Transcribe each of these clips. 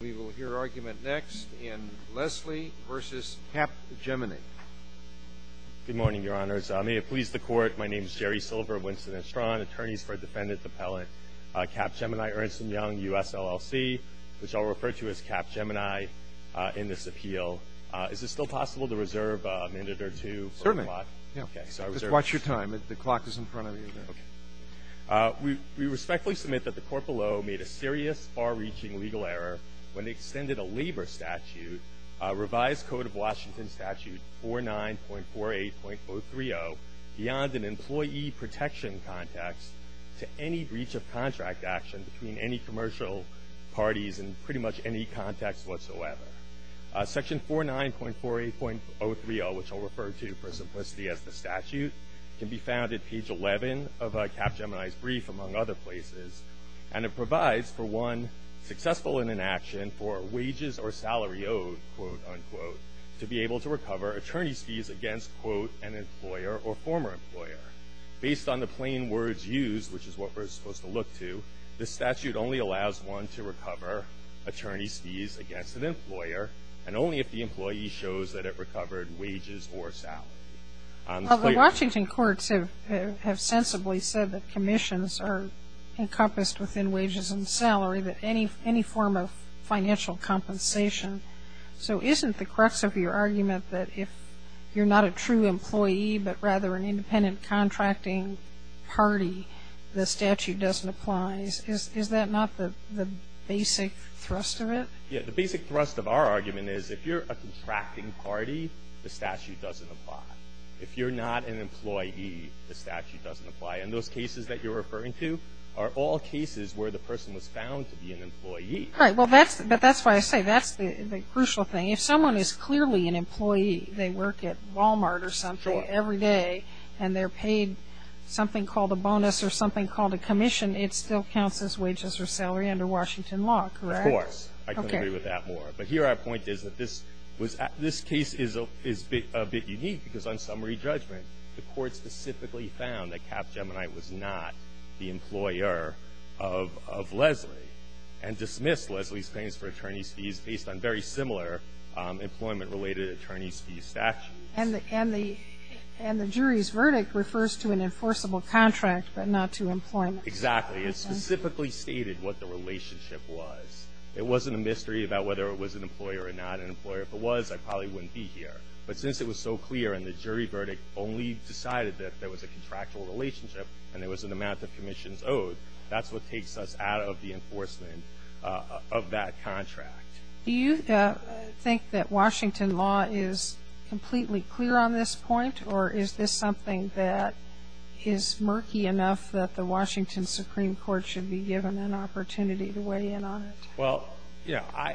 We will hear argument next in Leslie v. Cap Gemini. Good morning, Your Honors. May it please the Court, my name is Jerry Silver of Winston & Strawn, Attorneys for Defendant Appellant Cap Gemini Ernst & Young, U.S. LLC, which I'll refer to as Cap Gemini in this appeal. Is it still possible to reserve a minute or two? Certainly. Just watch your time. The clock is in front of you. We respectfully submit that the Court below made a serious, far-reaching legal error when it extended a labor statute, Revised Code of Washington Statute 49.48.030, beyond an employee protection context to any breach of contract action between any commercial parties in pretty much any context whatsoever. Section 49.48.030, which I'll refer to for simplicity as the statute, can be found at page 11 of Cap Gemini's brief, among other places, and it provides for one successful in an action for wages or salary owed, quote, unquote, to be able to recover attorney's fees against, quote, an employer or former employer. Based on the plain words used, which is what we're supposed to look to, the statute only allows one to recover attorney's fees against an employer and only if the employee shows that it recovered wages or salary. Well, the Washington courts have sensibly said that commissions are encompassed within wages and salary, that any form of financial compensation. So isn't the crux of your argument that if you're not a true employee but rather an independent contracting party, the statute doesn't apply? Is that not the basic thrust of it? Yeah. The basic thrust of our argument is if you're a contracting party, the statute doesn't apply. If you're not an employee, the statute doesn't apply. And those cases that you're referring to are all cases where the person was found to be an employee. All right. Well, that's why I say that's the crucial thing. If someone is clearly an employee, they work at Walmart or something every day, and they're paid something called a bonus or something called a commission, it still counts as wages or salary under Washington law, correct? Of course. I can't agree with that more. But here our point is that this case is a bit unique because on summary judgment, the Court specifically found that Capgemini was not the employer of Leslie and dismissed Leslie's claims for attorney's fees based on very similar employment-related attorney's fees statutes. And the jury's verdict refers to an enforceable contract but not to employment. Exactly. It specifically stated what the relationship was. It wasn't a mystery about whether it was an employer or not an employer. If it was, I probably wouldn't be here. But since it was so clear and the jury verdict only decided that there was a contractual relationship and there was an amount of commissions owed, that's what takes us out of the enforcement of that contract. Do you think that Washington law is completely clear on this point, or is this something that is murky enough that the Washington Supreme Court should be given an opportunity to weigh in on it? Well, yeah. I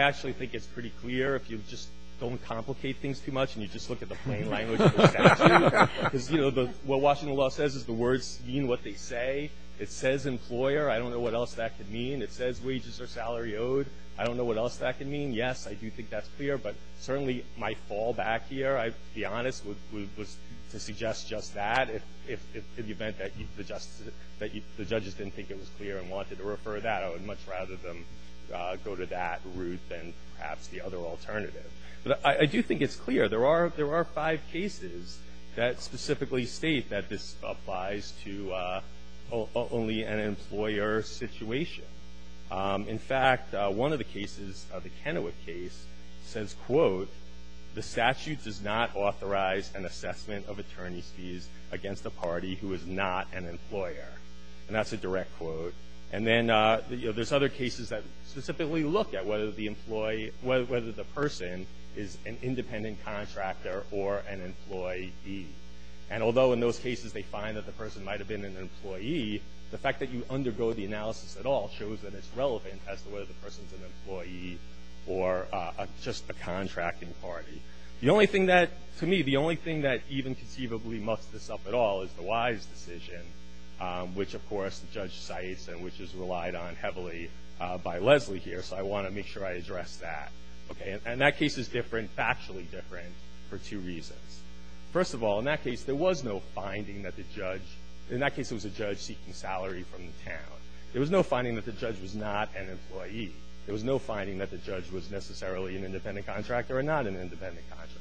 actually think it's pretty clear if you just don't complicate things too much and you just look at the plain language of the statute. Because, you know, what Washington law says is the words mean what they say. It says employer. I don't know what else that could mean. It says wages or salary owed. I don't know what else that could mean. Yes, I do think that's clear. But certainly my fallback here, to be honest, was to suggest just that. If in the event that the judges didn't think it was clear and wanted to refer that, I would much rather them go to that route than perhaps the other alternative. But I do think it's clear. There are five cases that specifically state that this applies to only an employer situation. In fact, one of the cases, the Kennewick case, says, quote, the statute does not authorize an assessment of attorney's fees against a party who is not an employer. And that's a direct quote. And then there's other cases that specifically look at whether the person is an independent contractor or an employee. And although in those cases they find that the person might have been an employee, the fact that you undergo the analysis at all shows that it's relevant as to whether the person's an employee or just a contracting party. The only thing that, to me, the only thing that even conceivably muffs this up at all is the Wise decision, which, of course, the judge cites and which is relied on heavily by Leslie here. So I want to make sure I address that. And that case is different, factually different, for two reasons. First of all, in that case there was no finding that the judge, in that case it was a judge seeking salary from the town. There was no finding that the judge was not an employee. There was no finding that the judge was necessarily an independent contractor or not an independent contractor.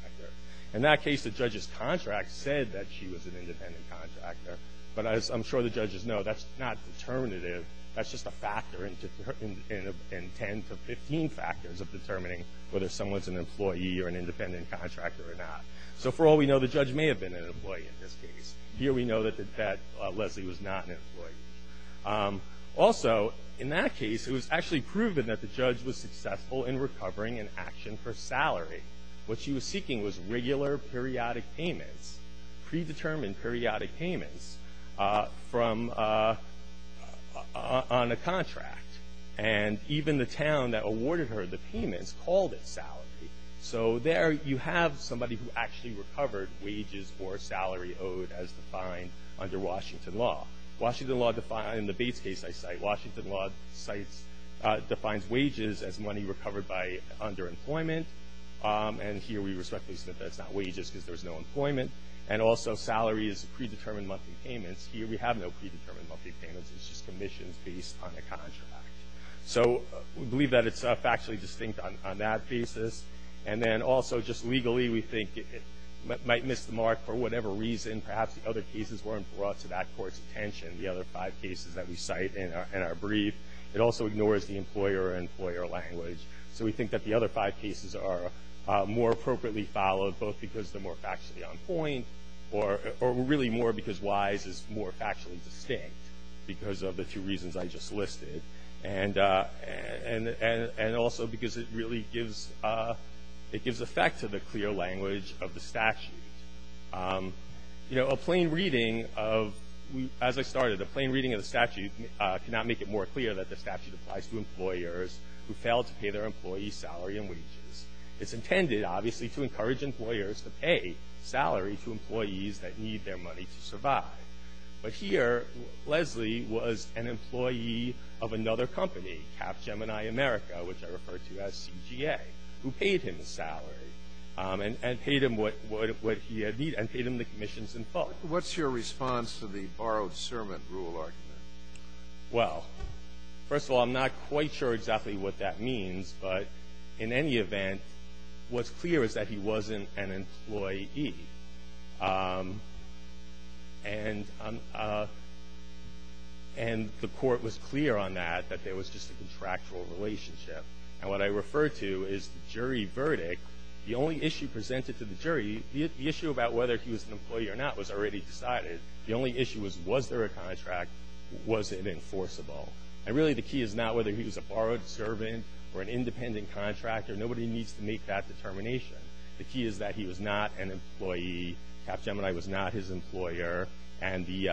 In that case, the judge's contract said that she was an independent contractor. But as I'm sure the judges know, that's not determinative. That's just a factor in 10 to 15 factors of determining whether someone's an employee or an independent contractor or not. So for all we know, the judge may have been an employee in this case. Here we know that Leslie was not an employee. Also, in that case it was actually proven that the judge was successful in recovering an action for salary. What she was seeking was regular periodic payments, predetermined periodic payments on a contract. And even the town that awarded her the payments called it salary. So there you have somebody who actually recovered wages or salary owed as defined under Washington law. Washington law, in the Bates case I cite, Washington law defines wages as money recovered by underemployment. And here we respectfully assume that's not wages because there was no employment. And also salary is predetermined monthly payments. Here we have no predetermined monthly payments. It's just commissions based on a contract. So we believe that it's factually distinct on that basis. And then also just legally we think it might miss the mark for whatever reason. Perhaps the other cases weren't brought to that court's attention, the other five cases that we cite in our brief. It also ignores the employer-employer language. So we think that the other five cases are more appropriately followed, both because they're more factually on point or really more because WISE is more factually distinct because of the two reasons I just listed. And also because it really gives effect to the clear language of the statute. You know, a plain reading of, as I started, a plain reading of the statute cannot make it more clear that the statute applies to employers who fail to pay their employees salary and wages. It's intended, obviously, to encourage employers to pay salary to employees that need their money to survive. But here, Leslie was an employee of another company, Capgemini America, which I refer to as CGA, who paid him salary and paid him what he needed and paid him the commissions in full. What's your response to the borrowed sermon rule argument? Well, first of all, I'm not quite sure exactly what that means. But in any event, what's clear is that he wasn't an employee. And the court was clear on that, that there was just a contractual relationship. And what I refer to is the jury verdict. The only issue presented to the jury, the issue about whether he was an employee or not was already decided. The only issue was, was there a contract, was it enforceable? And really the key is not whether he was a borrowed servant or an independent contractor. Nobody needs to make that determination. The key is that he was not an employee, Capgemini was not his employer, and they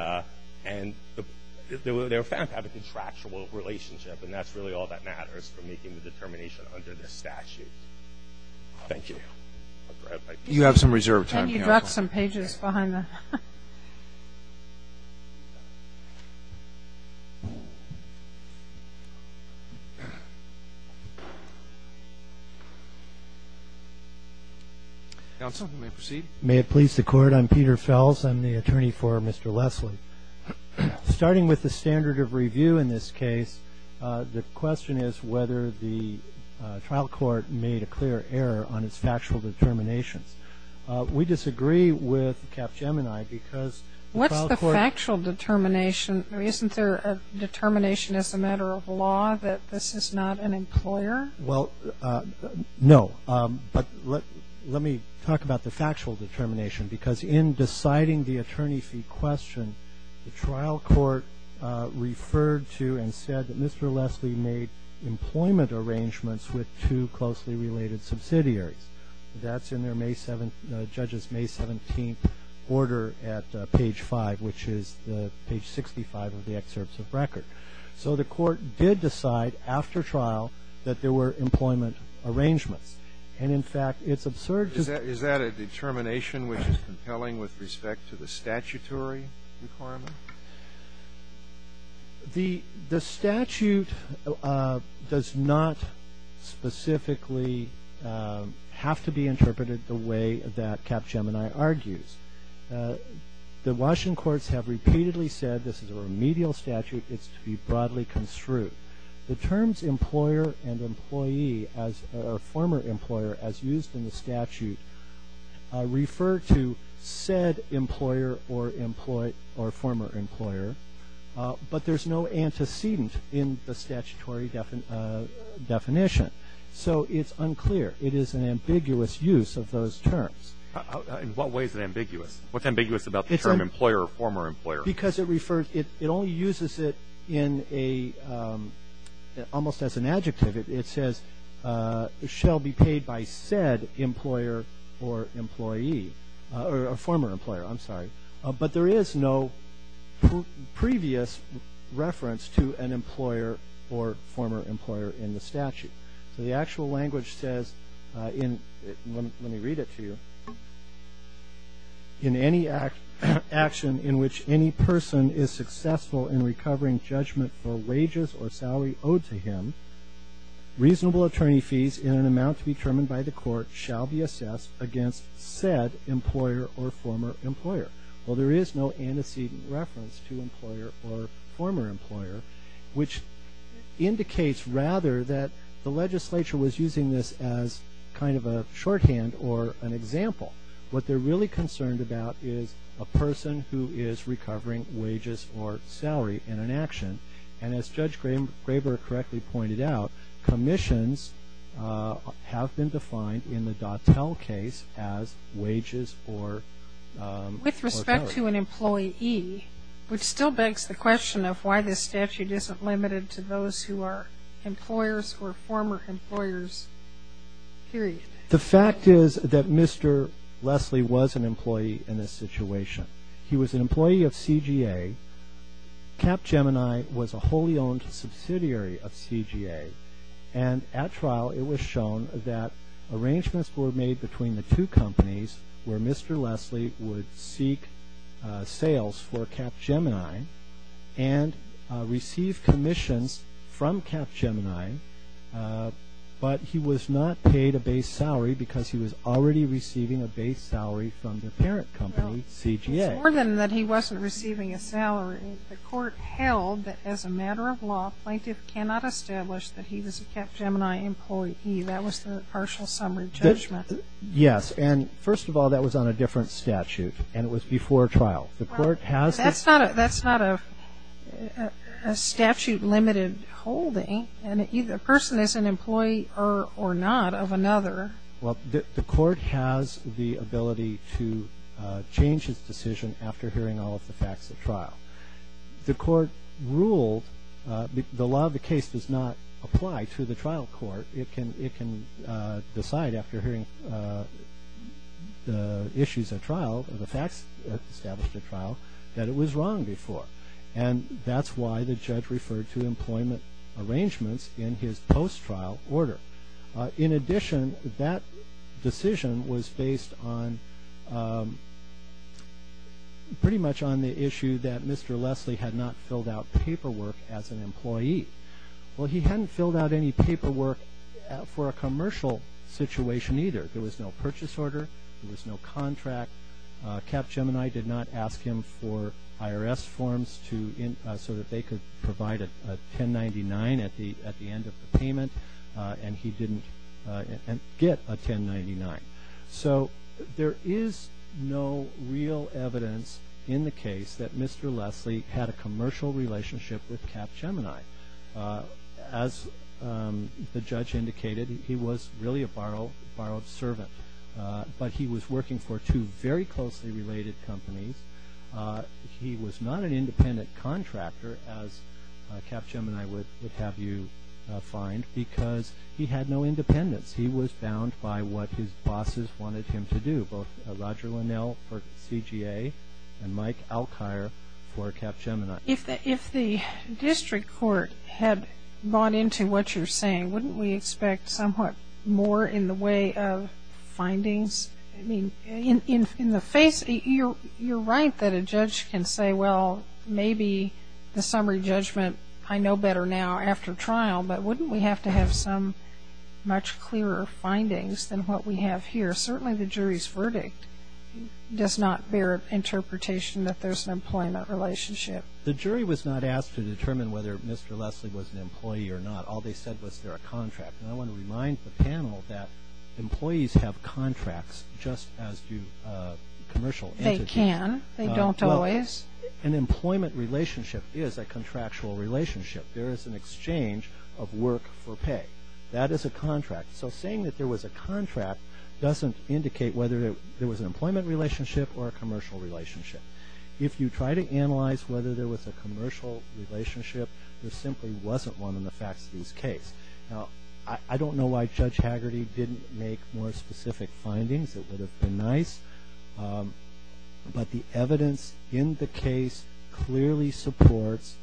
were found to have a contractual relationship. And that's really all that matters for making the determination under this statute. Thank you. You have some reserve time. And you dropped some pages behind the. Counsel, you may proceed. May it please the Court. I'm Peter Fels. I'm the attorney for Mr. Leslie. Starting with the standard of review in this case, the question is whether the trial court made a clear error on its factual determinations. We disagree with Capgemini because the trial court. What's the factual determination? Isn't there a determination as a matter of law that this is not an employer? Well, no. But let me talk about the factual determination, because in deciding the attorney fee question, the trial court referred to and said that Mr. Leslie made employment arrangements with two closely related subsidiaries. That's in the judge's May 17th order at page 5, which is page 65 of the excerpts of record. So the court did decide after trial that there were employment arrangements. And, in fact, it's absurd. Is that a determination which is compelling with respect to the statutory requirement? The statute does not specifically have to be interpreted the way that Capgemini argues. The Washington courts have repeatedly said this is a remedial statute. It's to be broadly construed. The terms employer and employee or former employer, as used in the statute, refer to said employer or former employer, but there's no antecedent in the statutory definition. So it's unclear. It is an ambiguous use of those terms. In what way is it ambiguous? What's ambiguous about the term employer or former employer? It only uses it in a almost as an adjective. It says shall be paid by said employer or employee or former employer. I'm sorry. But there is no previous reference to an employer or former employer in the statute. So the actual language says, let me read it to you, in any action in which any person is successful in recovering judgment for wages or salary owed to him, reasonable attorney fees in an amount to be determined by the court shall be assessed against said employer or former employer. Well, there is no antecedent reference to employer or former employer, which indicates rather that the legislature was using this as kind of a shorthand or an example. What they're really concerned about is a person who is recovering wages or salary in an action. And as Judge Graber correctly pointed out, commissions have been defined in the Dattell case as wages or salary. Which still begs the question of why this statute isn't limited to those who are employers or former employers, period. The fact is that Mr. Leslie was an employee in this situation. He was an employee of CGA. Capgemini was a wholly owned subsidiary of CGA. And at trial it was shown that arrangements were made between the two companies where Mr. Leslie would seek sales for Capgemini and receive commissions from Capgemini. But he was not paid a base salary because he was already receiving a base salary from the parent company, CGA. Well, it's more than that he wasn't receiving a salary. The court held that as a matter of law, plaintiff cannot establish that he was a Capgemini employee. That was the partial summary judgment. Yes. And first of all, that was on a different statute. And it was before trial. That's not a statute-limited holding. And a person is an employee or not of another. Well, the court has the ability to change its decision after hearing all of the facts at trial. The court ruled the law of the case does not apply to the trial court. It can decide after hearing the issues at trial, the facts established at trial, that it was wrong before. And that's why the judge referred to employment arrangements in his post-trial order. In addition, that decision was based on pretty much on the issue that Mr. Leslie had not filled out paperwork as an employee. Well, he hadn't filled out any paperwork for a commercial situation either. There was no purchase order. There was no contract. Capgemini did not ask him for IRS forms so that they could provide a 1099 at the end of the payment. And he didn't get a 1099. So there is no real evidence in the case that Mr. Leslie had a commercial relationship with Capgemini. As the judge indicated, he was really a borrowed servant. But he was working for two very closely related companies. He was not an independent contractor, as Capgemini would have you find, because he had no independence. He was bound by what his bosses wanted him to do, both Roger Linnell for CGA and Mike Alkire for Capgemini. If the district court had bought into what you're saying, wouldn't we expect somewhat more in the way of findings? I mean, in the face, you're right that a judge can say, well, maybe the summary judgment I know better now after trial, but wouldn't we have to have some much clearer findings than what we have here? Certainly the jury's verdict does not bear interpretation that there's an employment relationship. The jury was not asked to determine whether Mr. Leslie was an employee or not. All they said was they're a contract. And I want to remind the panel that employees have contracts just as do commercial entities. They can. They don't always. An employment relationship is a contractual relationship. There is an exchange of work for pay. That is a contract. So saying that there was a contract doesn't indicate whether there was an employment relationship or a commercial relationship. If you try to analyze whether there was a commercial relationship, there simply wasn't one in the Faxody's case. Now, I don't know why Judge Haggerty didn't make more specific findings. It would have been nice. But the evidence in the case clearly supports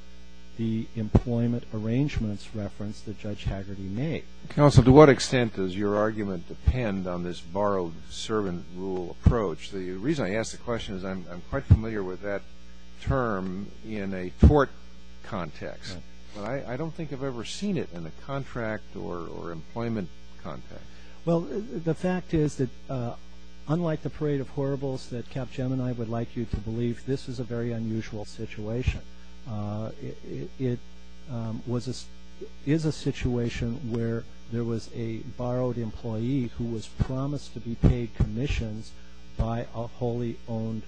the employment arrangements reference that Judge Haggerty made. Counsel, to what extent does your argument depend on this borrowed servant rule approach? The reason I ask the question is I'm quite familiar with that term in a tort context, but I don't think I've ever seen it in a contract or employment context. Well, the fact is that unlike the parade of horribles that Capgemini would like you to believe, this is a very unusual situation. It is a situation where there was a borrowed employee who was promised to be paid commissions by a wholly owned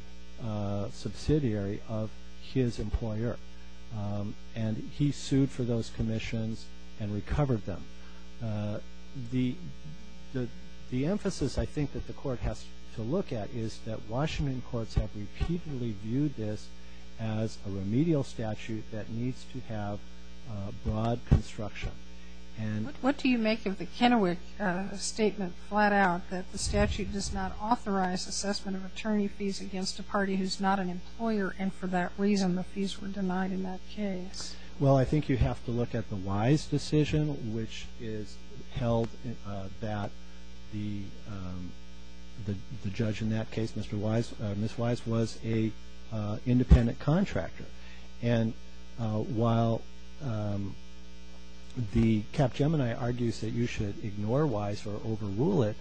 subsidiary of his employer. And he sued for those commissions and recovered them. The emphasis, I think, that the court has to look at is that Washington courts have repeatedly viewed this as a remedial statute that needs to have broad construction. What do you make of the Kennewick statement, flat out, that the statute does not authorize assessment of attorney fees against a party who's not an employer and for that reason the fees were denied in that case? Well, I think you have to look at the Wise decision, which is held that the judge in that case, Ms. Wise, was an independent contractor. And while the Capgemini argues that you should ignore Wise or overrule it,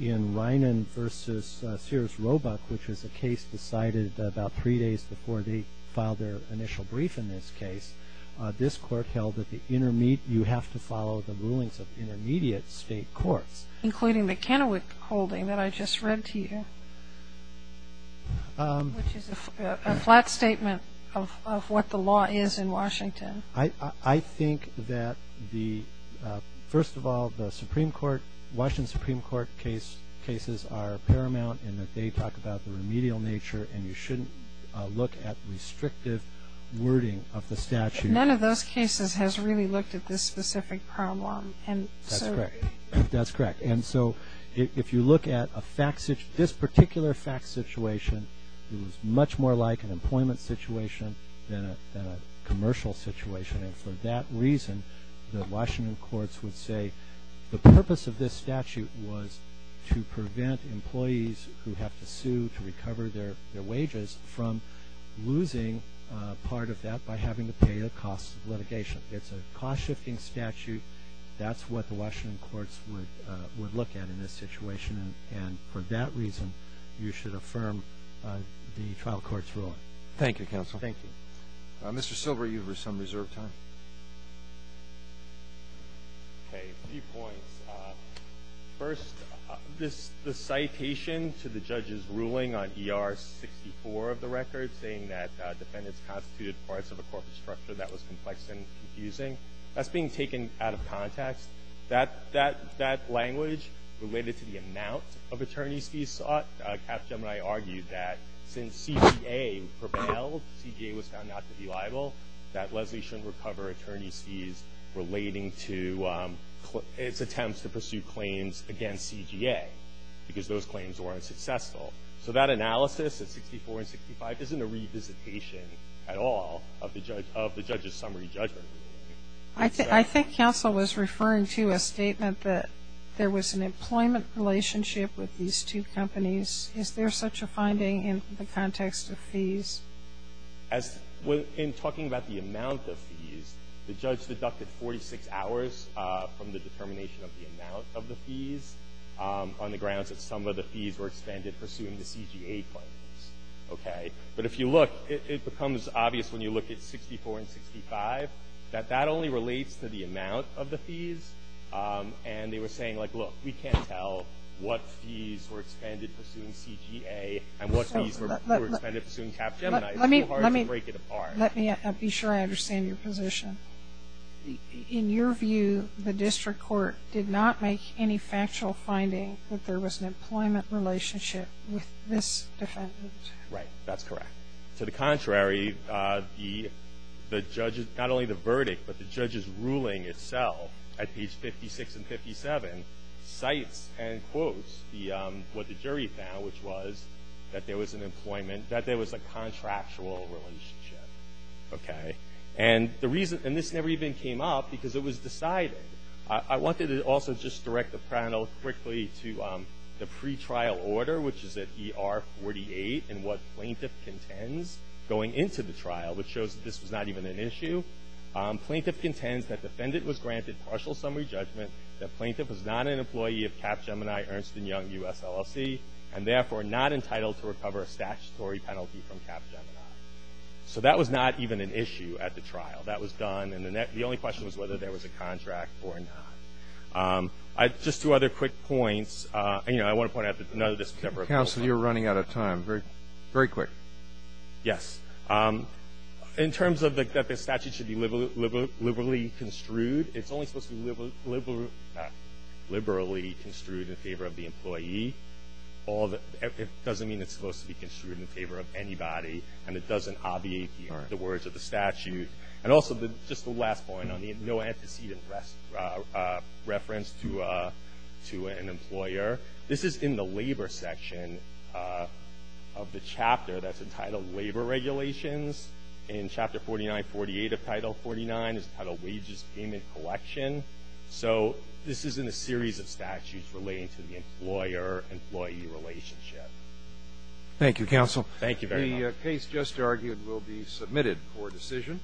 in Reinen v. Sears Roebuck, which is a case decided about three days before they filed their initial brief in this case, this court held that you have to follow the rulings of intermediate state courts. Including the Kennewick holding that I just read to you, which is a flat statement of what the law is in Washington. I think that, first of all, the Supreme Court, Washington Supreme Court cases are paramount in that they talk about the remedial nature and you shouldn't look at restrictive wording of the statute. None of those cases has really looked at this specific problem. That's correct. And so if you look at this particular fact situation, it was much more like an employment situation than a commercial situation. And for that reason, the Washington courts would say the purpose of this statute was to prevent employees who have to sue to recover their wages from losing part of that by having to pay the cost of litigation. It's a cost-shifting statute. That's what the Washington courts would look at in this situation. And for that reason, you should affirm the trial court's ruling. Thank you, counsel. Thank you. Mr. Silber, you have some reserved time. Okay, a few points. First, the citation to the judge's ruling on ER 64 of the record saying that defendants constituted parts of a corporate structure that was complex and confusing, that's being taken out of context. That language related to the amount of attorneys he sought. Capgemini argued that since CGA prevailed, CGA was found not to be liable, that Leslie shouldn't recover attorney's fees relating to its attempts to pursue claims against CGA because those claims weren't successful. So that analysis at 64 and 65 isn't a revisitation at all of the judge's summary judgment. I think counsel was referring to a statement that there was an employment relationship with these two companies. Is there such a finding in the context of fees? In talking about the amount of fees, the judge deducted 46 hours from the determination of the amount of the fees on the grounds that some of the fees were expended pursuing the CGA claims. Okay? But if you look, it becomes obvious when you look at 64 and 65 that that only relates to the amount of the fees. And they were saying, like, look, we can't tell what fees were expended pursuing CGA and what fees were expended pursuing Capgemini. It's so hard to break it apart. Let me be sure I understand your position. In your view, the district court did not make any factual finding that there was an employment relationship with this defendant. Right. That's correct. To the contrary, not only the verdict, but the judge's ruling itself at page 56 and 57 cites and quotes what the jury found, which was that there was a contractual relationship. Okay? And this never even came up because it was decided. I wanted to also just direct the panel quickly to the pretrial order, which is at ER 48, and what plaintiff contends going into the trial, which shows that this was not even an issue. Plaintiff contends that defendant was granted partial summary judgment, that plaintiff was not an employee of Capgemini, Ernst & Young, US LLC, and therefore not entitled to recover a statutory penalty from Capgemini. So that was not even an issue at the trial. That was done. And the only question was whether there was a contract or not. Just two other quick points. You know, I want to point out that none of this was ever a complaint. Counsel, you're running out of time. Very quick. Yes. In terms of that the statute should be liberally construed, it's only supposed to be liberally construed in favor of the employee. It doesn't mean it's supposed to be construed in favor of anybody, and it doesn't obviate the words of the statute. And also just the last point on the no antecedent reference to an employer. This is in the labor section of the chapter that's entitled Labor Regulations in Chapter 4948 of Title 49. It's titled Wages, Payment, Collection. So this is in a series of statutes relating to the employer-employee relationship. Thank you, counsel. Thank you very much. The case just argued will be submitted for decision.